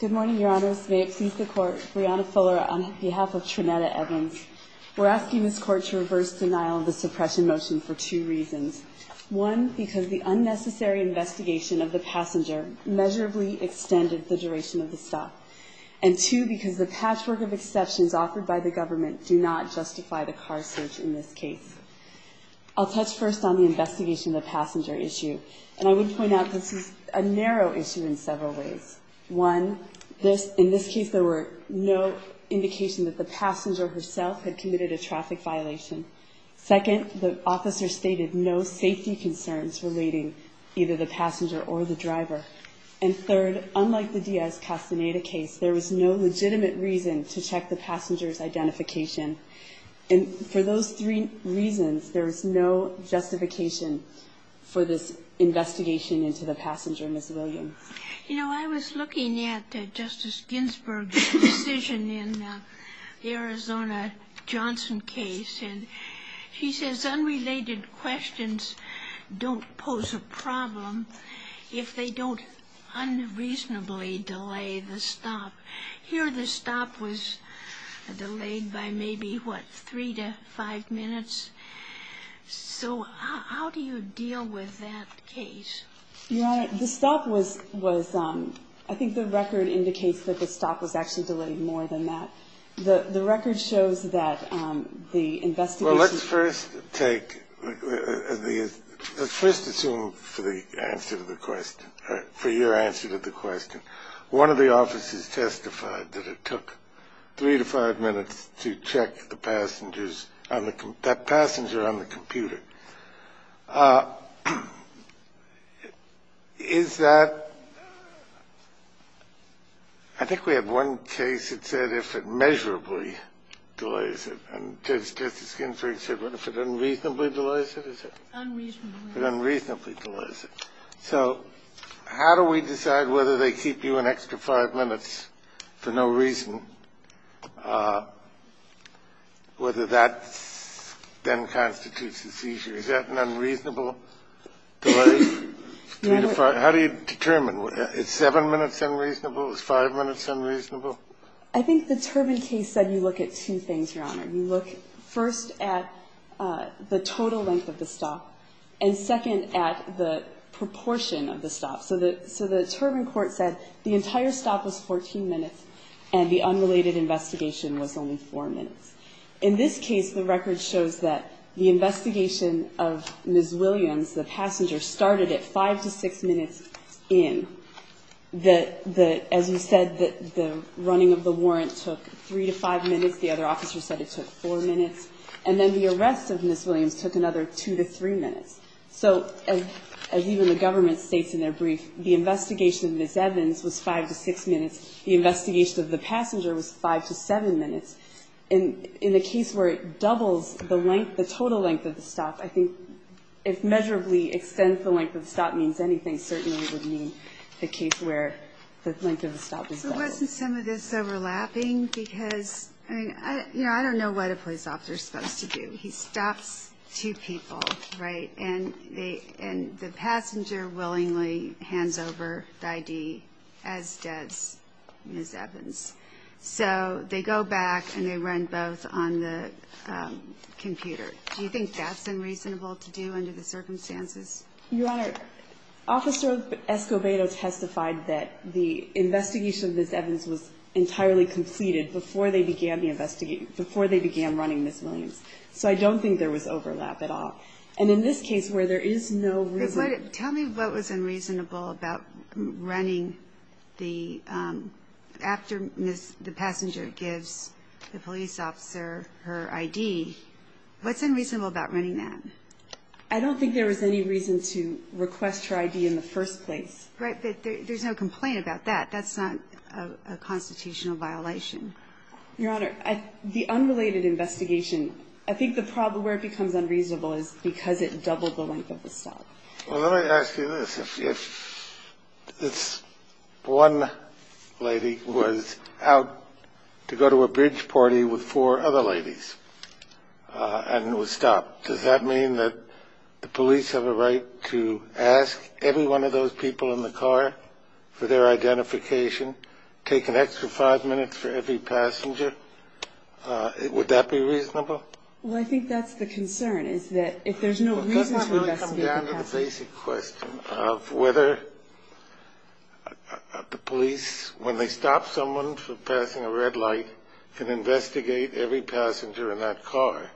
Good morning, Your Honors. May it please the Court, Brianna Fuller on behalf of Tranette Evans. We're asking this Court to reverse denial of the suppression motion for two reasons. One, because the unnecessary investigation of the passenger measurably extended the duration of the stop. And two, because the patchwork of exceptions offered by the government do not justify the car search in this case. I'll touch first on the investigation of the passenger issue, and I would point out this is a narrow issue in several ways. One, in this case, there were no indications that the passenger herself had committed a traffic violation. Second, the officer stated no safety concerns relating either the passenger or the driver. And third, unlike the Diaz-Castaneda case, there was no legitimate reason to check the passenger's identification. And for those three reasons, there is no justification for this investigation into the passenger, Ms. Williams. You know, I was looking at Justice Ginsburg's decision in the Arizona-Johnson case, and she says unrelated questions don't pose a problem if they don't unreasonably delay the stop. Here, the stop was delayed by maybe, what, three to five minutes. So how do you deal with that case? Your Honor, the stop was ‑‑ I think the record indicates that the stop was actually delayed more than that. The record shows that the investigation ‑‑ Well, let's first take ‑‑ let's first assume for the answer to the question, or for your answer to the question, one of the officers testified that it took three to five minutes to check the passengers on the ‑‑ that passenger on the computer. Is that ‑‑ I think we have one case that said if it measurably delays it. And Justice Ginsburg said if it unreasonably delays it, is it? Unreasonably. If it unreasonably delays it. So how do we decide whether they keep you an extra five minutes for no reason, whether that then constitutes a seizure? Is that an unreasonable delay? How do you determine? Is seven minutes unreasonable? Is five minutes unreasonable? I think the Turbin case said you look at two things, Your Honor. You look first at the total length of the stop and second at the proportion of the stop. So the Turbin court said the entire stop was 14 minutes and the unrelated investigation was only four minutes. In this case, the record shows that the investigation of Ms. Williams, the passenger, started at five to six minutes in. As you said, the running of the warrant took three to five minutes. The other officer said it took four minutes. And then the arrest of Ms. Williams took another two to three minutes. So as even the government states in their brief, the investigation of Ms. Evans was five to six minutes. The investigation of the passenger was five to seven minutes. And in a case where it doubles the total length of the stop, I think if measurably extends the length of the stop means anything, certainly would mean the case where the length of the stop is doubled. So wasn't some of this overlapping? Because, I mean, I don't know what a police officer is supposed to do. He stops two people, right? And the passenger willingly hands over the ID as does Ms. Evans. So they go back and they run both on the computer. Do you think that's unreasonable to do under the circumstances? You Honor, Officer Escobedo testified that the investigation of Ms. Evans was entirely completed before they began the investigation, before they began running Ms. Williams. So I don't think there was overlap at all. And in this case, where there is no overlap. Tell me what was unreasonable about running the, after the passenger gives the police officer her ID, what's unreasonable about running that? I don't think there was any reason to request her ID in the first place. Right, but there's no complaint about that. That's not a constitutional violation. Your Honor, the unrelated investigation, I think the problem where it becomes unreasonable is because it doubled the length of the stop. Well, let me ask you this. If this one lady was out to go to a bridge party with four other ladies and was stopped, does that mean that the police have a right to ask every one of those people in the car for their identification, take an extra five minutes for every passenger? Would that be reasonable? Well, I think that's the concern is that if there's no reason to investigate the passenger. Doesn't that really come down to the basic question of whether the police, when they stop someone for passing a red light, can investigate every passenger in that car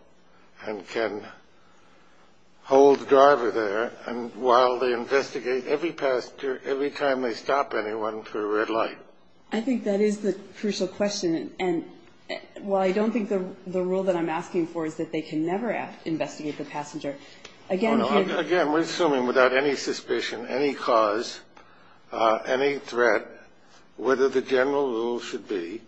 and can hold the driver there. And while they investigate every passenger, every time they stop anyone for a red light. I think that is the crucial question. And while I don't think the rule that I'm asking for is that they can never investigate the passenger. Again, we're assuming without any suspicion, any cause, any threat, whether the general rule should be.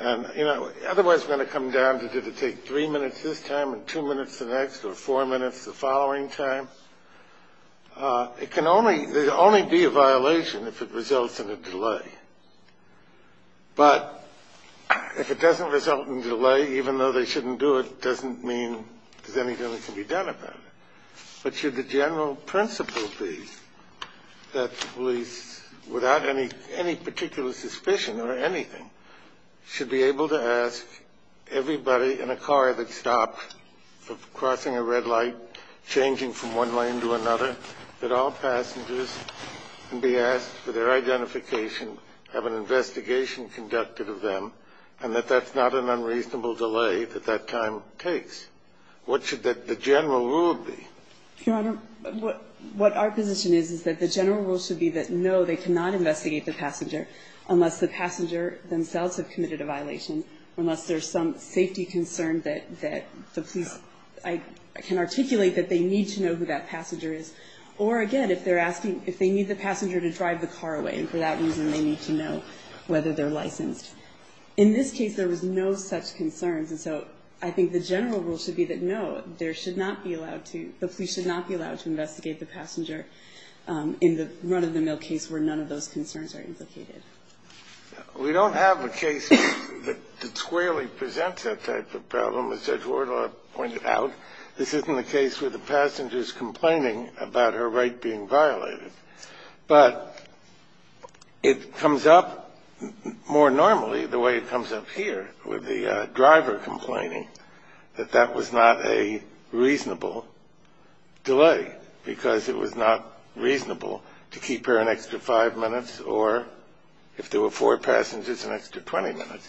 And, you know, otherwise going to come down to did it take three minutes this time and two minutes the next or four minutes the following time. It can only only be a violation if it results in a delay. But if it doesn't result in delay, even though they shouldn't do it, doesn't mean there's anything that can be done about it. Should the general principle be that police, without any any particular suspicion or anything, should be able to ask everybody in a car that stopped for crossing a red light, changing from one lane to another, that all passengers can be asked for their identification, have an investigation conducted of them, and that that's not an unreasonable delay that that time takes. What should the general rule be? Your Honor, what our position is is that the general rule should be that, no, they cannot investigate the passenger unless the passenger themselves have committed a violation, unless there's some safety concern that the police can articulate that they need to know who that passenger is, or, again, if they're asking if they need the passenger to drive the car away, and for that reason they need to know whether they're licensed. In this case, there was no such concerns. And so I think the general rule should be that, no, there should not be allowed to, the police should not be allowed to investigate the passenger in the run-of-the-mill case where none of those concerns are implicated. We don't have a case that squarely presents that type of problem, as Judge Wardlaw pointed out. This isn't a case where the passenger's complaining about her right being violated. But it comes up more normally the way it comes up here with the driver complaining that that was not a reasonable delay because it was not reasonable to keep her an extra five minutes or, if there were four passengers, an extra 20 minutes,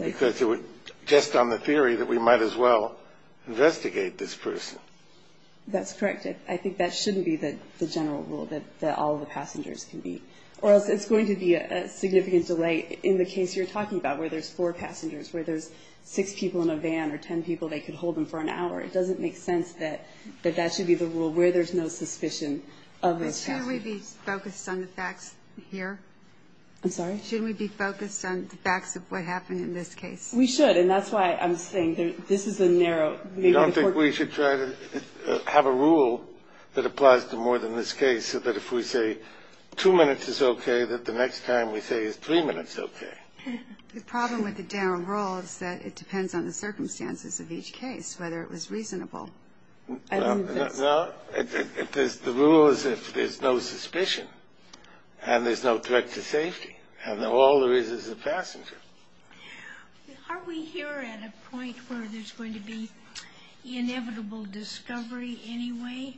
because it was just on the theory that we might as well investigate this person. That's correct. I think that shouldn't be the general rule, that all of the passengers can be. Or else it's going to be a significant delay in the case you're talking about, where there's four passengers, where there's six people in a van or ten people, they could hold them for an hour. It doesn't make sense that that should be the rule, where there's no suspicion of those passengers. But should we be focused on the facts here? I'm sorry? Should we be focused on the facts of what happened in this case? We should. And that's why I'm saying this is a narrow. I don't think we should try to have a rule that applies to more than this case, so that if we say two minutes is okay, that the next time we say is three minutes okay. The problem with the general rule is that it depends on the circumstances of each case, whether it was reasonable. No. The rule is if there's no suspicion and there's no threat to safety and all there is is a passenger. Are we here at a point where there's going to be inevitable discovery anyway,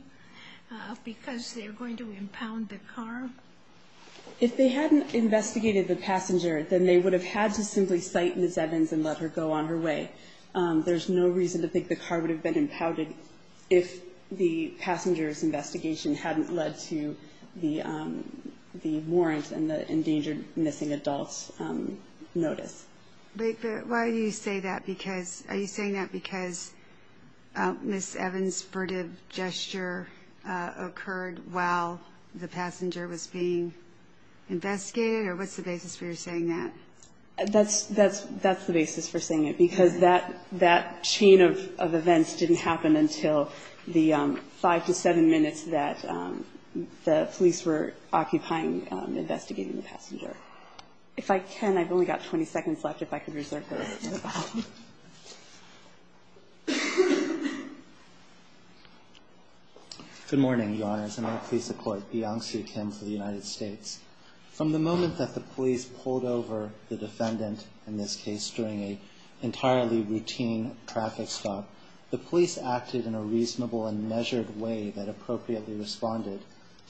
because they're going to impound the car? If they hadn't investigated the passenger, then they would have had to simply cite Ms. Evans and let her go on her way. There's no reason to think the car would have been impounded if the passenger's investigation hadn't led to the warrant and the endangered missing adults notice. But why do you say that? Are you saying that because Ms. Evans' furtive gesture occurred while the passenger was being investigated, or what's the basis for your saying that? That's the basis for saying it, because that chain of events didn't happen until the five to seven minutes that the police were occupying investigating the passenger. If I can, I've only got 20 seconds left. If I could reserve those. Good morning, Your Honors. I'm a police employee at Beyonce Kim for the United States. From the moment that the police pulled over the defendant, in this case, during an entirely routine traffic stop, the police acted in a reasonable and measured way that appropriately responded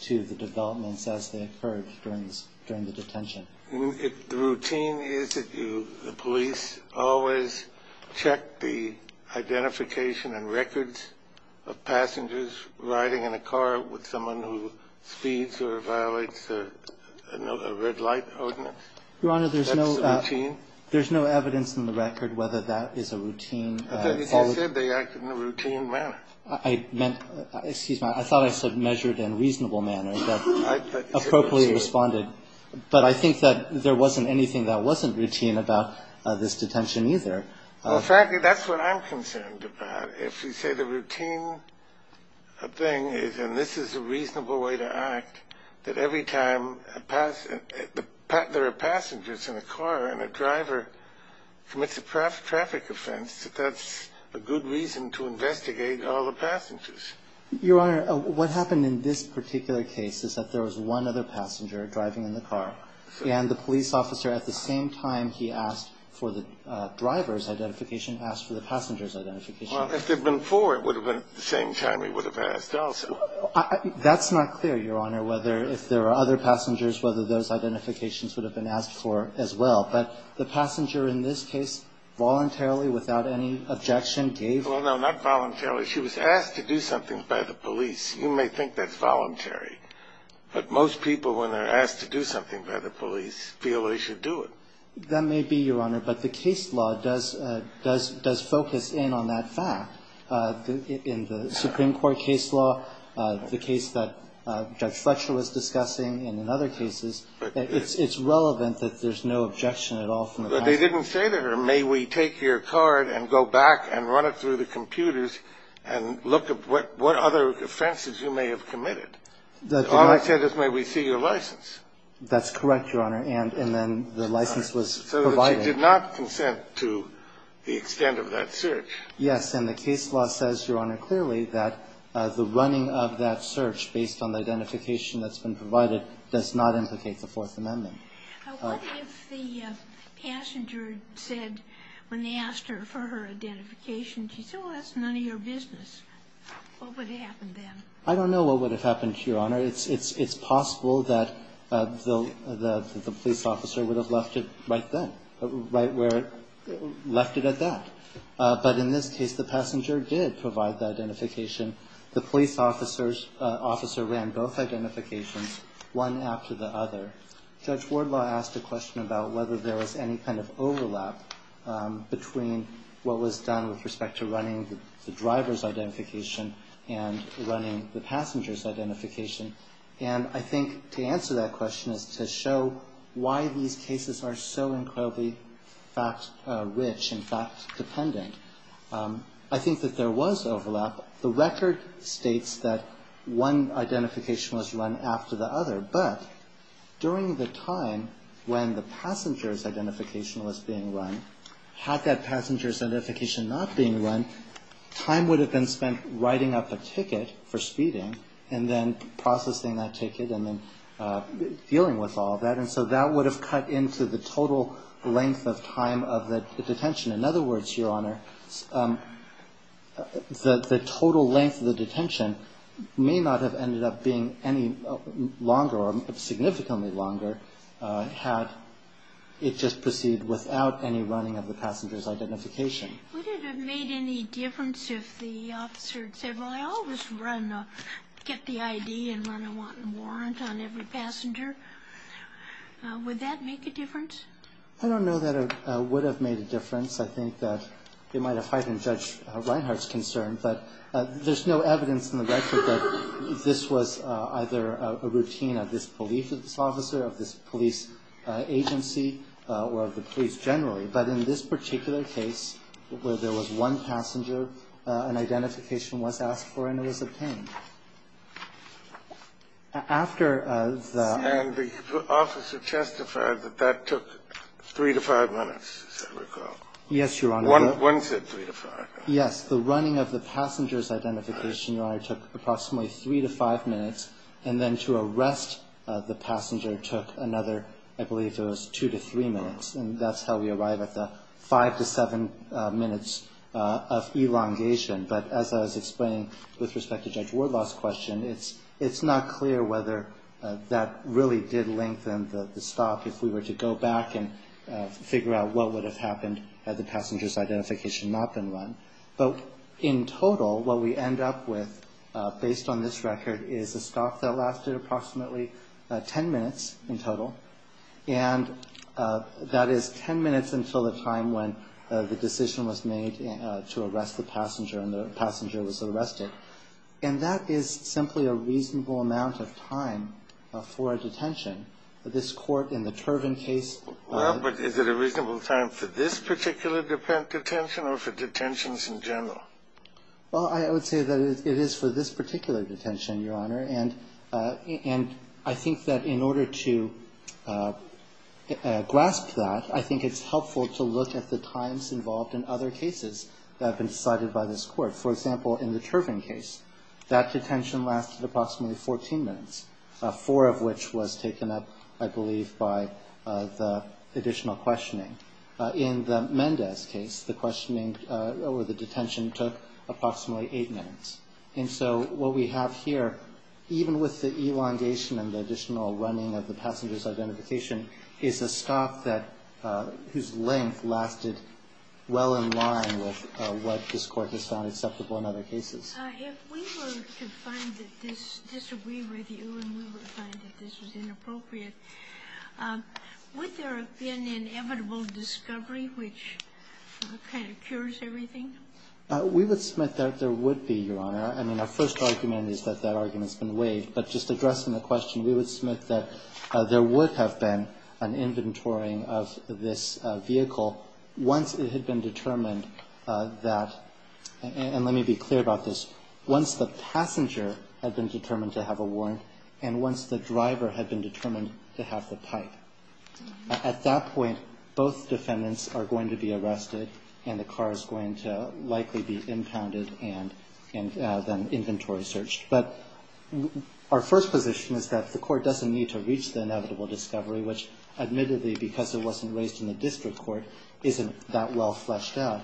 to the developments as they occurred during the detention. The routine is that the police always check the identification and records of passengers riding in a car with someone who speeds or violates a red light ordinance. Your Honor, there's no evidence in the record whether that is a routine. I thought you said they acted in a routine manner. Excuse me. I thought I said measured and reasonable manner that appropriately responded. But I think that there wasn't anything that wasn't routine about this detention, either. Well, frankly, that's what I'm concerned about. If you say the routine thing is, and this is a reasonable way to act, that every time there are passengers in a car and a driver commits a traffic offense, that that's a good reason to investigate all the passengers. Your Honor, what happened in this particular case is that there was one other passenger driving in the car. And the police officer, at the same time he asked for the driver's identification, asked for the passenger's identification. Well, if there had been four, it would have been at the same time he would have asked also. That's not clear, Your Honor, whether if there were other passengers, whether those identifications would have been asked for as well. But the passenger in this case voluntarily, without any objection, gave. Well, no, not voluntarily. She was asked to do something by the police. You may think that's voluntary. But most people, when they're asked to do something by the police, feel they should do it. That may be, Your Honor. But the case law does focus in on that fact. In the Supreme Court case law, the case that Judge Fletcher was discussing and in other cases, it's relevant that there's no objection at all from the passengers. But they didn't say to her, may we take your card and go back and run it through the computers and look at what other offenses you may have committed. All they said is, may we see your license. That's correct, Your Honor. And then the license was provided. So she did not consent to the extent of that search. Yes. And the case law says, Your Honor, clearly that the running of that search, based on the identification that's been provided, does not implicate the Fourth Amendment. What if the passenger said, when they asked her for her identification, she said, well, that's none of your business? What would have happened then? I don't know what would have happened, Your Honor. It's possible that the police officer would have left it right then, right where it left it at that. But in this case, the passenger did provide the identification. The police officer ran both identifications, one after the other. Judge Wardlaw asked a question about whether there was any kind of overlap between what was done with respect to running the driver's identification and running the passenger's identification. And I think to answer that question is to show why these cases are so incredibly rich and fact-dependent. I think that there was overlap. The record states that one identification was run after the other. But during the time when the passenger's identification was being run, had that passenger's identification not been run, time would have been spent writing up a ticket for speeding and then processing that ticket and then dealing with all of that. And so that would have cut into the total length of time of the detention. In other words, Your Honor, the total length of the detention may not have ended up being any longer or significantly longer had it just proceeded without any running of the passenger's identification. Would it have made any difference if the officer had said, well, I always get the ID and run a wanton warrant on every passenger. Would that make a difference? I don't know that it would have made a difference. I think that it might have heightened Judge Reinhart's concern. But there's no evidence in the record that this was either a routine of this police officer, of this police agency, or of the police generally. But in this particular case where there was one passenger, an identification was asked for and it was obtained. After the ---- And the officer testified that that took three to five minutes, as I recall. Yes, Your Honor. One said three to five. Yes. The running of the passenger's identification, Your Honor, took approximately three to five minutes. And then to arrest the passenger took another, I believe it was two to three minutes. And that's how we arrive at the five to seven minutes of elongation. But as I was explaining with respect to Judge Wardlaw's question, it's not clear whether that really did lengthen the stop if we were to go back and figure out what would have happened had the passenger's identification not been run. But in total, what we end up with, based on this record, is a stop that lasted approximately ten minutes in total. And that is ten minutes until the time when the decision was made to arrest the passenger and the passenger was arrested. And that is simply a reasonable amount of time for a detention. This Court in the Turvin case ---- Well, but is it a reasonable time for this particular detention or for detentions in general? Well, I would say that it is for this particular detention, Your Honor. And I think that in order to grasp that, I think it's helpful to look at the times involved in other cases that have been cited by this Court. For example, in the Turvin case, that detention lasted approximately 14 minutes, four of which was taken up, I believe, by the additional questioning. In the Mendez case, the questioning or the detention took approximately eight minutes. And so what we have here, even with the elongation and the additional running of the passenger's identification, is a stop whose length lasted well in line with what this Court has found acceptable in other cases. If we were to find that this disagreed with you and we were to find that this was inappropriate, would there have been an inevitable discovery which kind of cures everything? We would submit that there would be, Your Honor. I mean, our first argument is that that argument's been waived. But just addressing the question, we would submit that there would have been an inventorying of this vehicle once it had been determined that ---- and let me be clear about this ---- once the passenger had been determined to have a warrant and once the driver had been determined to have the pipe. At that point, both defendants are going to be arrested and the car is going to likely be impounded and then inventory searched. But our first position is that the Court doesn't need to reach the inevitable discovery, which admittedly, because it wasn't raised in the district court, isn't that well fleshed out.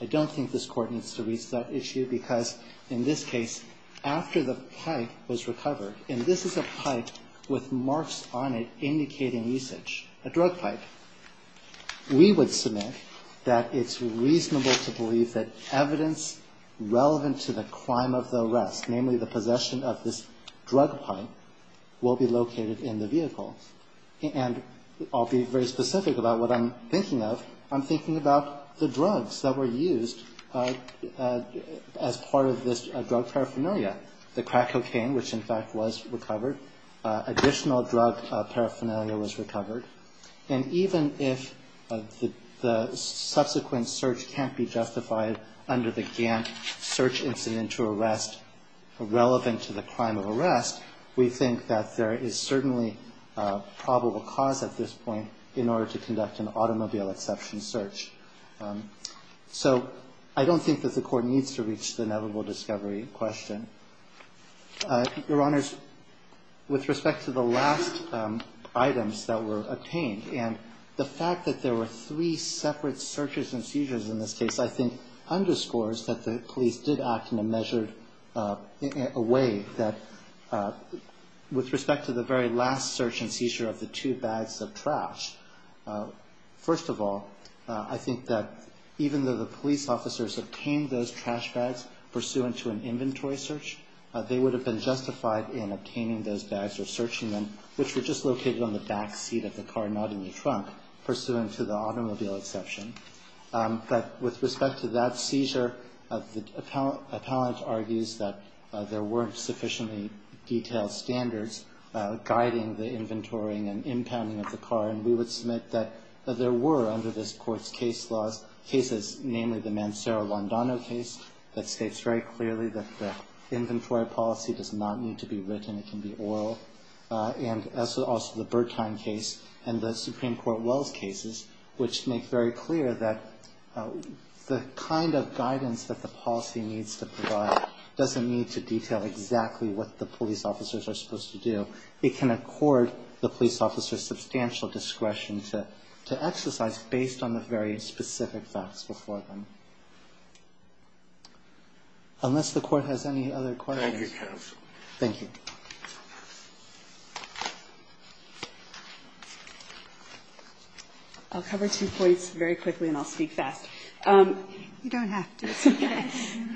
I don't think this Court needs to reach that issue, because in this case, after the pipe was recovered and this is a pipe with marks on it indicating usage, a drug pipe, we would submit that it's reasonable to believe that evidence relevant to the crime of the arrest, namely the possession of this drug pipe, will be located in the vehicle. And I'll be very specific about what I'm thinking of. I'm thinking about the drugs that were used as part of this drug paraphernalia, the crack cocaine, which, in fact, was recovered. Additional drug paraphernalia was recovered. And even if the subsequent search can't be justified under the Gantt search incident to arrest relevant to the crime of arrest, we think that there is certainly probable cause at this point in order to conduct an automobile exception search. So I don't think that the Court needs to reach the inevitable discovery question. Your Honors, with respect to the last items that were obtained, and the fact that there were three separate searches and seizures in this case, I think underscores that the police did act in a measured way that, with respect to the very last search and seizure of the two bags of trash, first of all, I think that even though the police officers obtained those trash bags pursuant to an inventory search, they would have been justified in obtaining those bags or searching them, which were just located on the back seat of the car, not in the trunk, pursuant to the automobile exception. But with respect to that seizure, the appellant argues that there weren't sufficiently detailed standards guiding the inventorying and impounding of the car. And we would submit that there were, under this Court's case laws, cases, namely the Mancera-Londano case, that states very clearly that the inventory policy does not need to be written. It can be oral. And also the Bertine case and the Supreme Court Wells cases, which make very clear that the kind of guidance that the policy needs to provide doesn't need to detail exactly what the police officers are supposed to do. It can accord the police officers substantial discretion to exercise, based on the very specific facts before them. Unless the Court has any other questions. Thank you, counsel. Thank you. I'll cover two points very quickly, and I'll speak fast. You don't have to.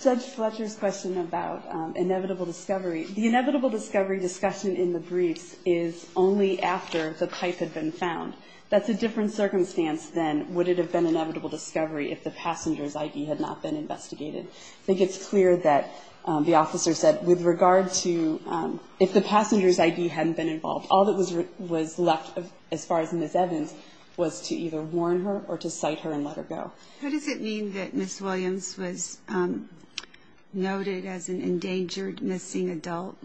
Judge Fletcher's question about inevitable discovery. The inevitable discovery discussion in the briefs is only after the pipe had been found. That's a different circumstance than would it have been inevitable discovery if the passenger's ID had not been investigated. I think it's clear that the officer said with regard to if the passenger's ID hadn't been involved, all that was left, as far as Ms. Evans, was to either warn her or to cite her and let her go. What does it mean that Ms. Williams was noted as an endangered missing adult?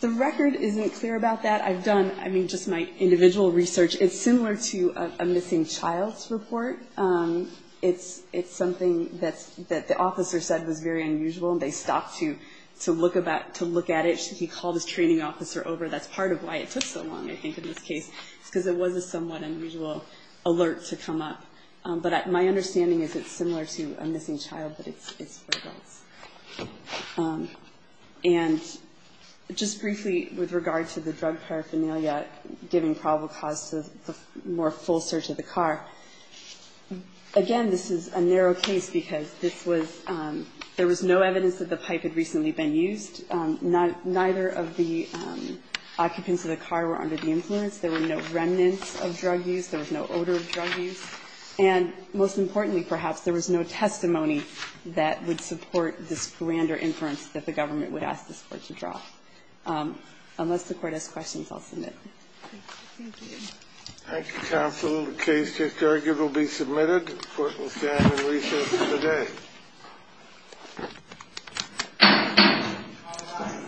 The record isn't clear about that. I've done just my individual research. It's similar to a missing child's report. It's something that the officer said was very unusual, and they stopped to look at it. He called his training officer over. That's part of why it took so long, I think, in this case, because it was a somewhat unusual alert to come up. But my understanding is it's similar to a missing child, but it's for adults. And just briefly with regard to the drug paraphernalia giving probable cause to the more full search of the car, again, this is a narrow case because this was – there was no evidence that the pipe had recently been used. Neither of the occupants of the car were under the influence. There were no remnants of drug use. There was no odor of drug use. And most importantly, perhaps, there was no testimony that would support this grander inference that the government would ask this Court to draw. Unless the Court has questions, I'll submit. Thank you. Thank you, counsel. The case just argued will be submitted. The Court will stand in recess for the day. All rise. This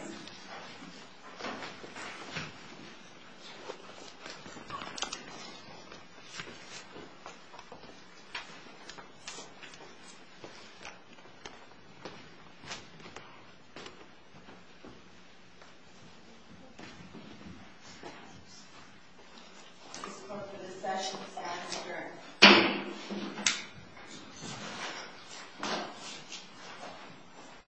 Court for this session is adjourned. Thank you.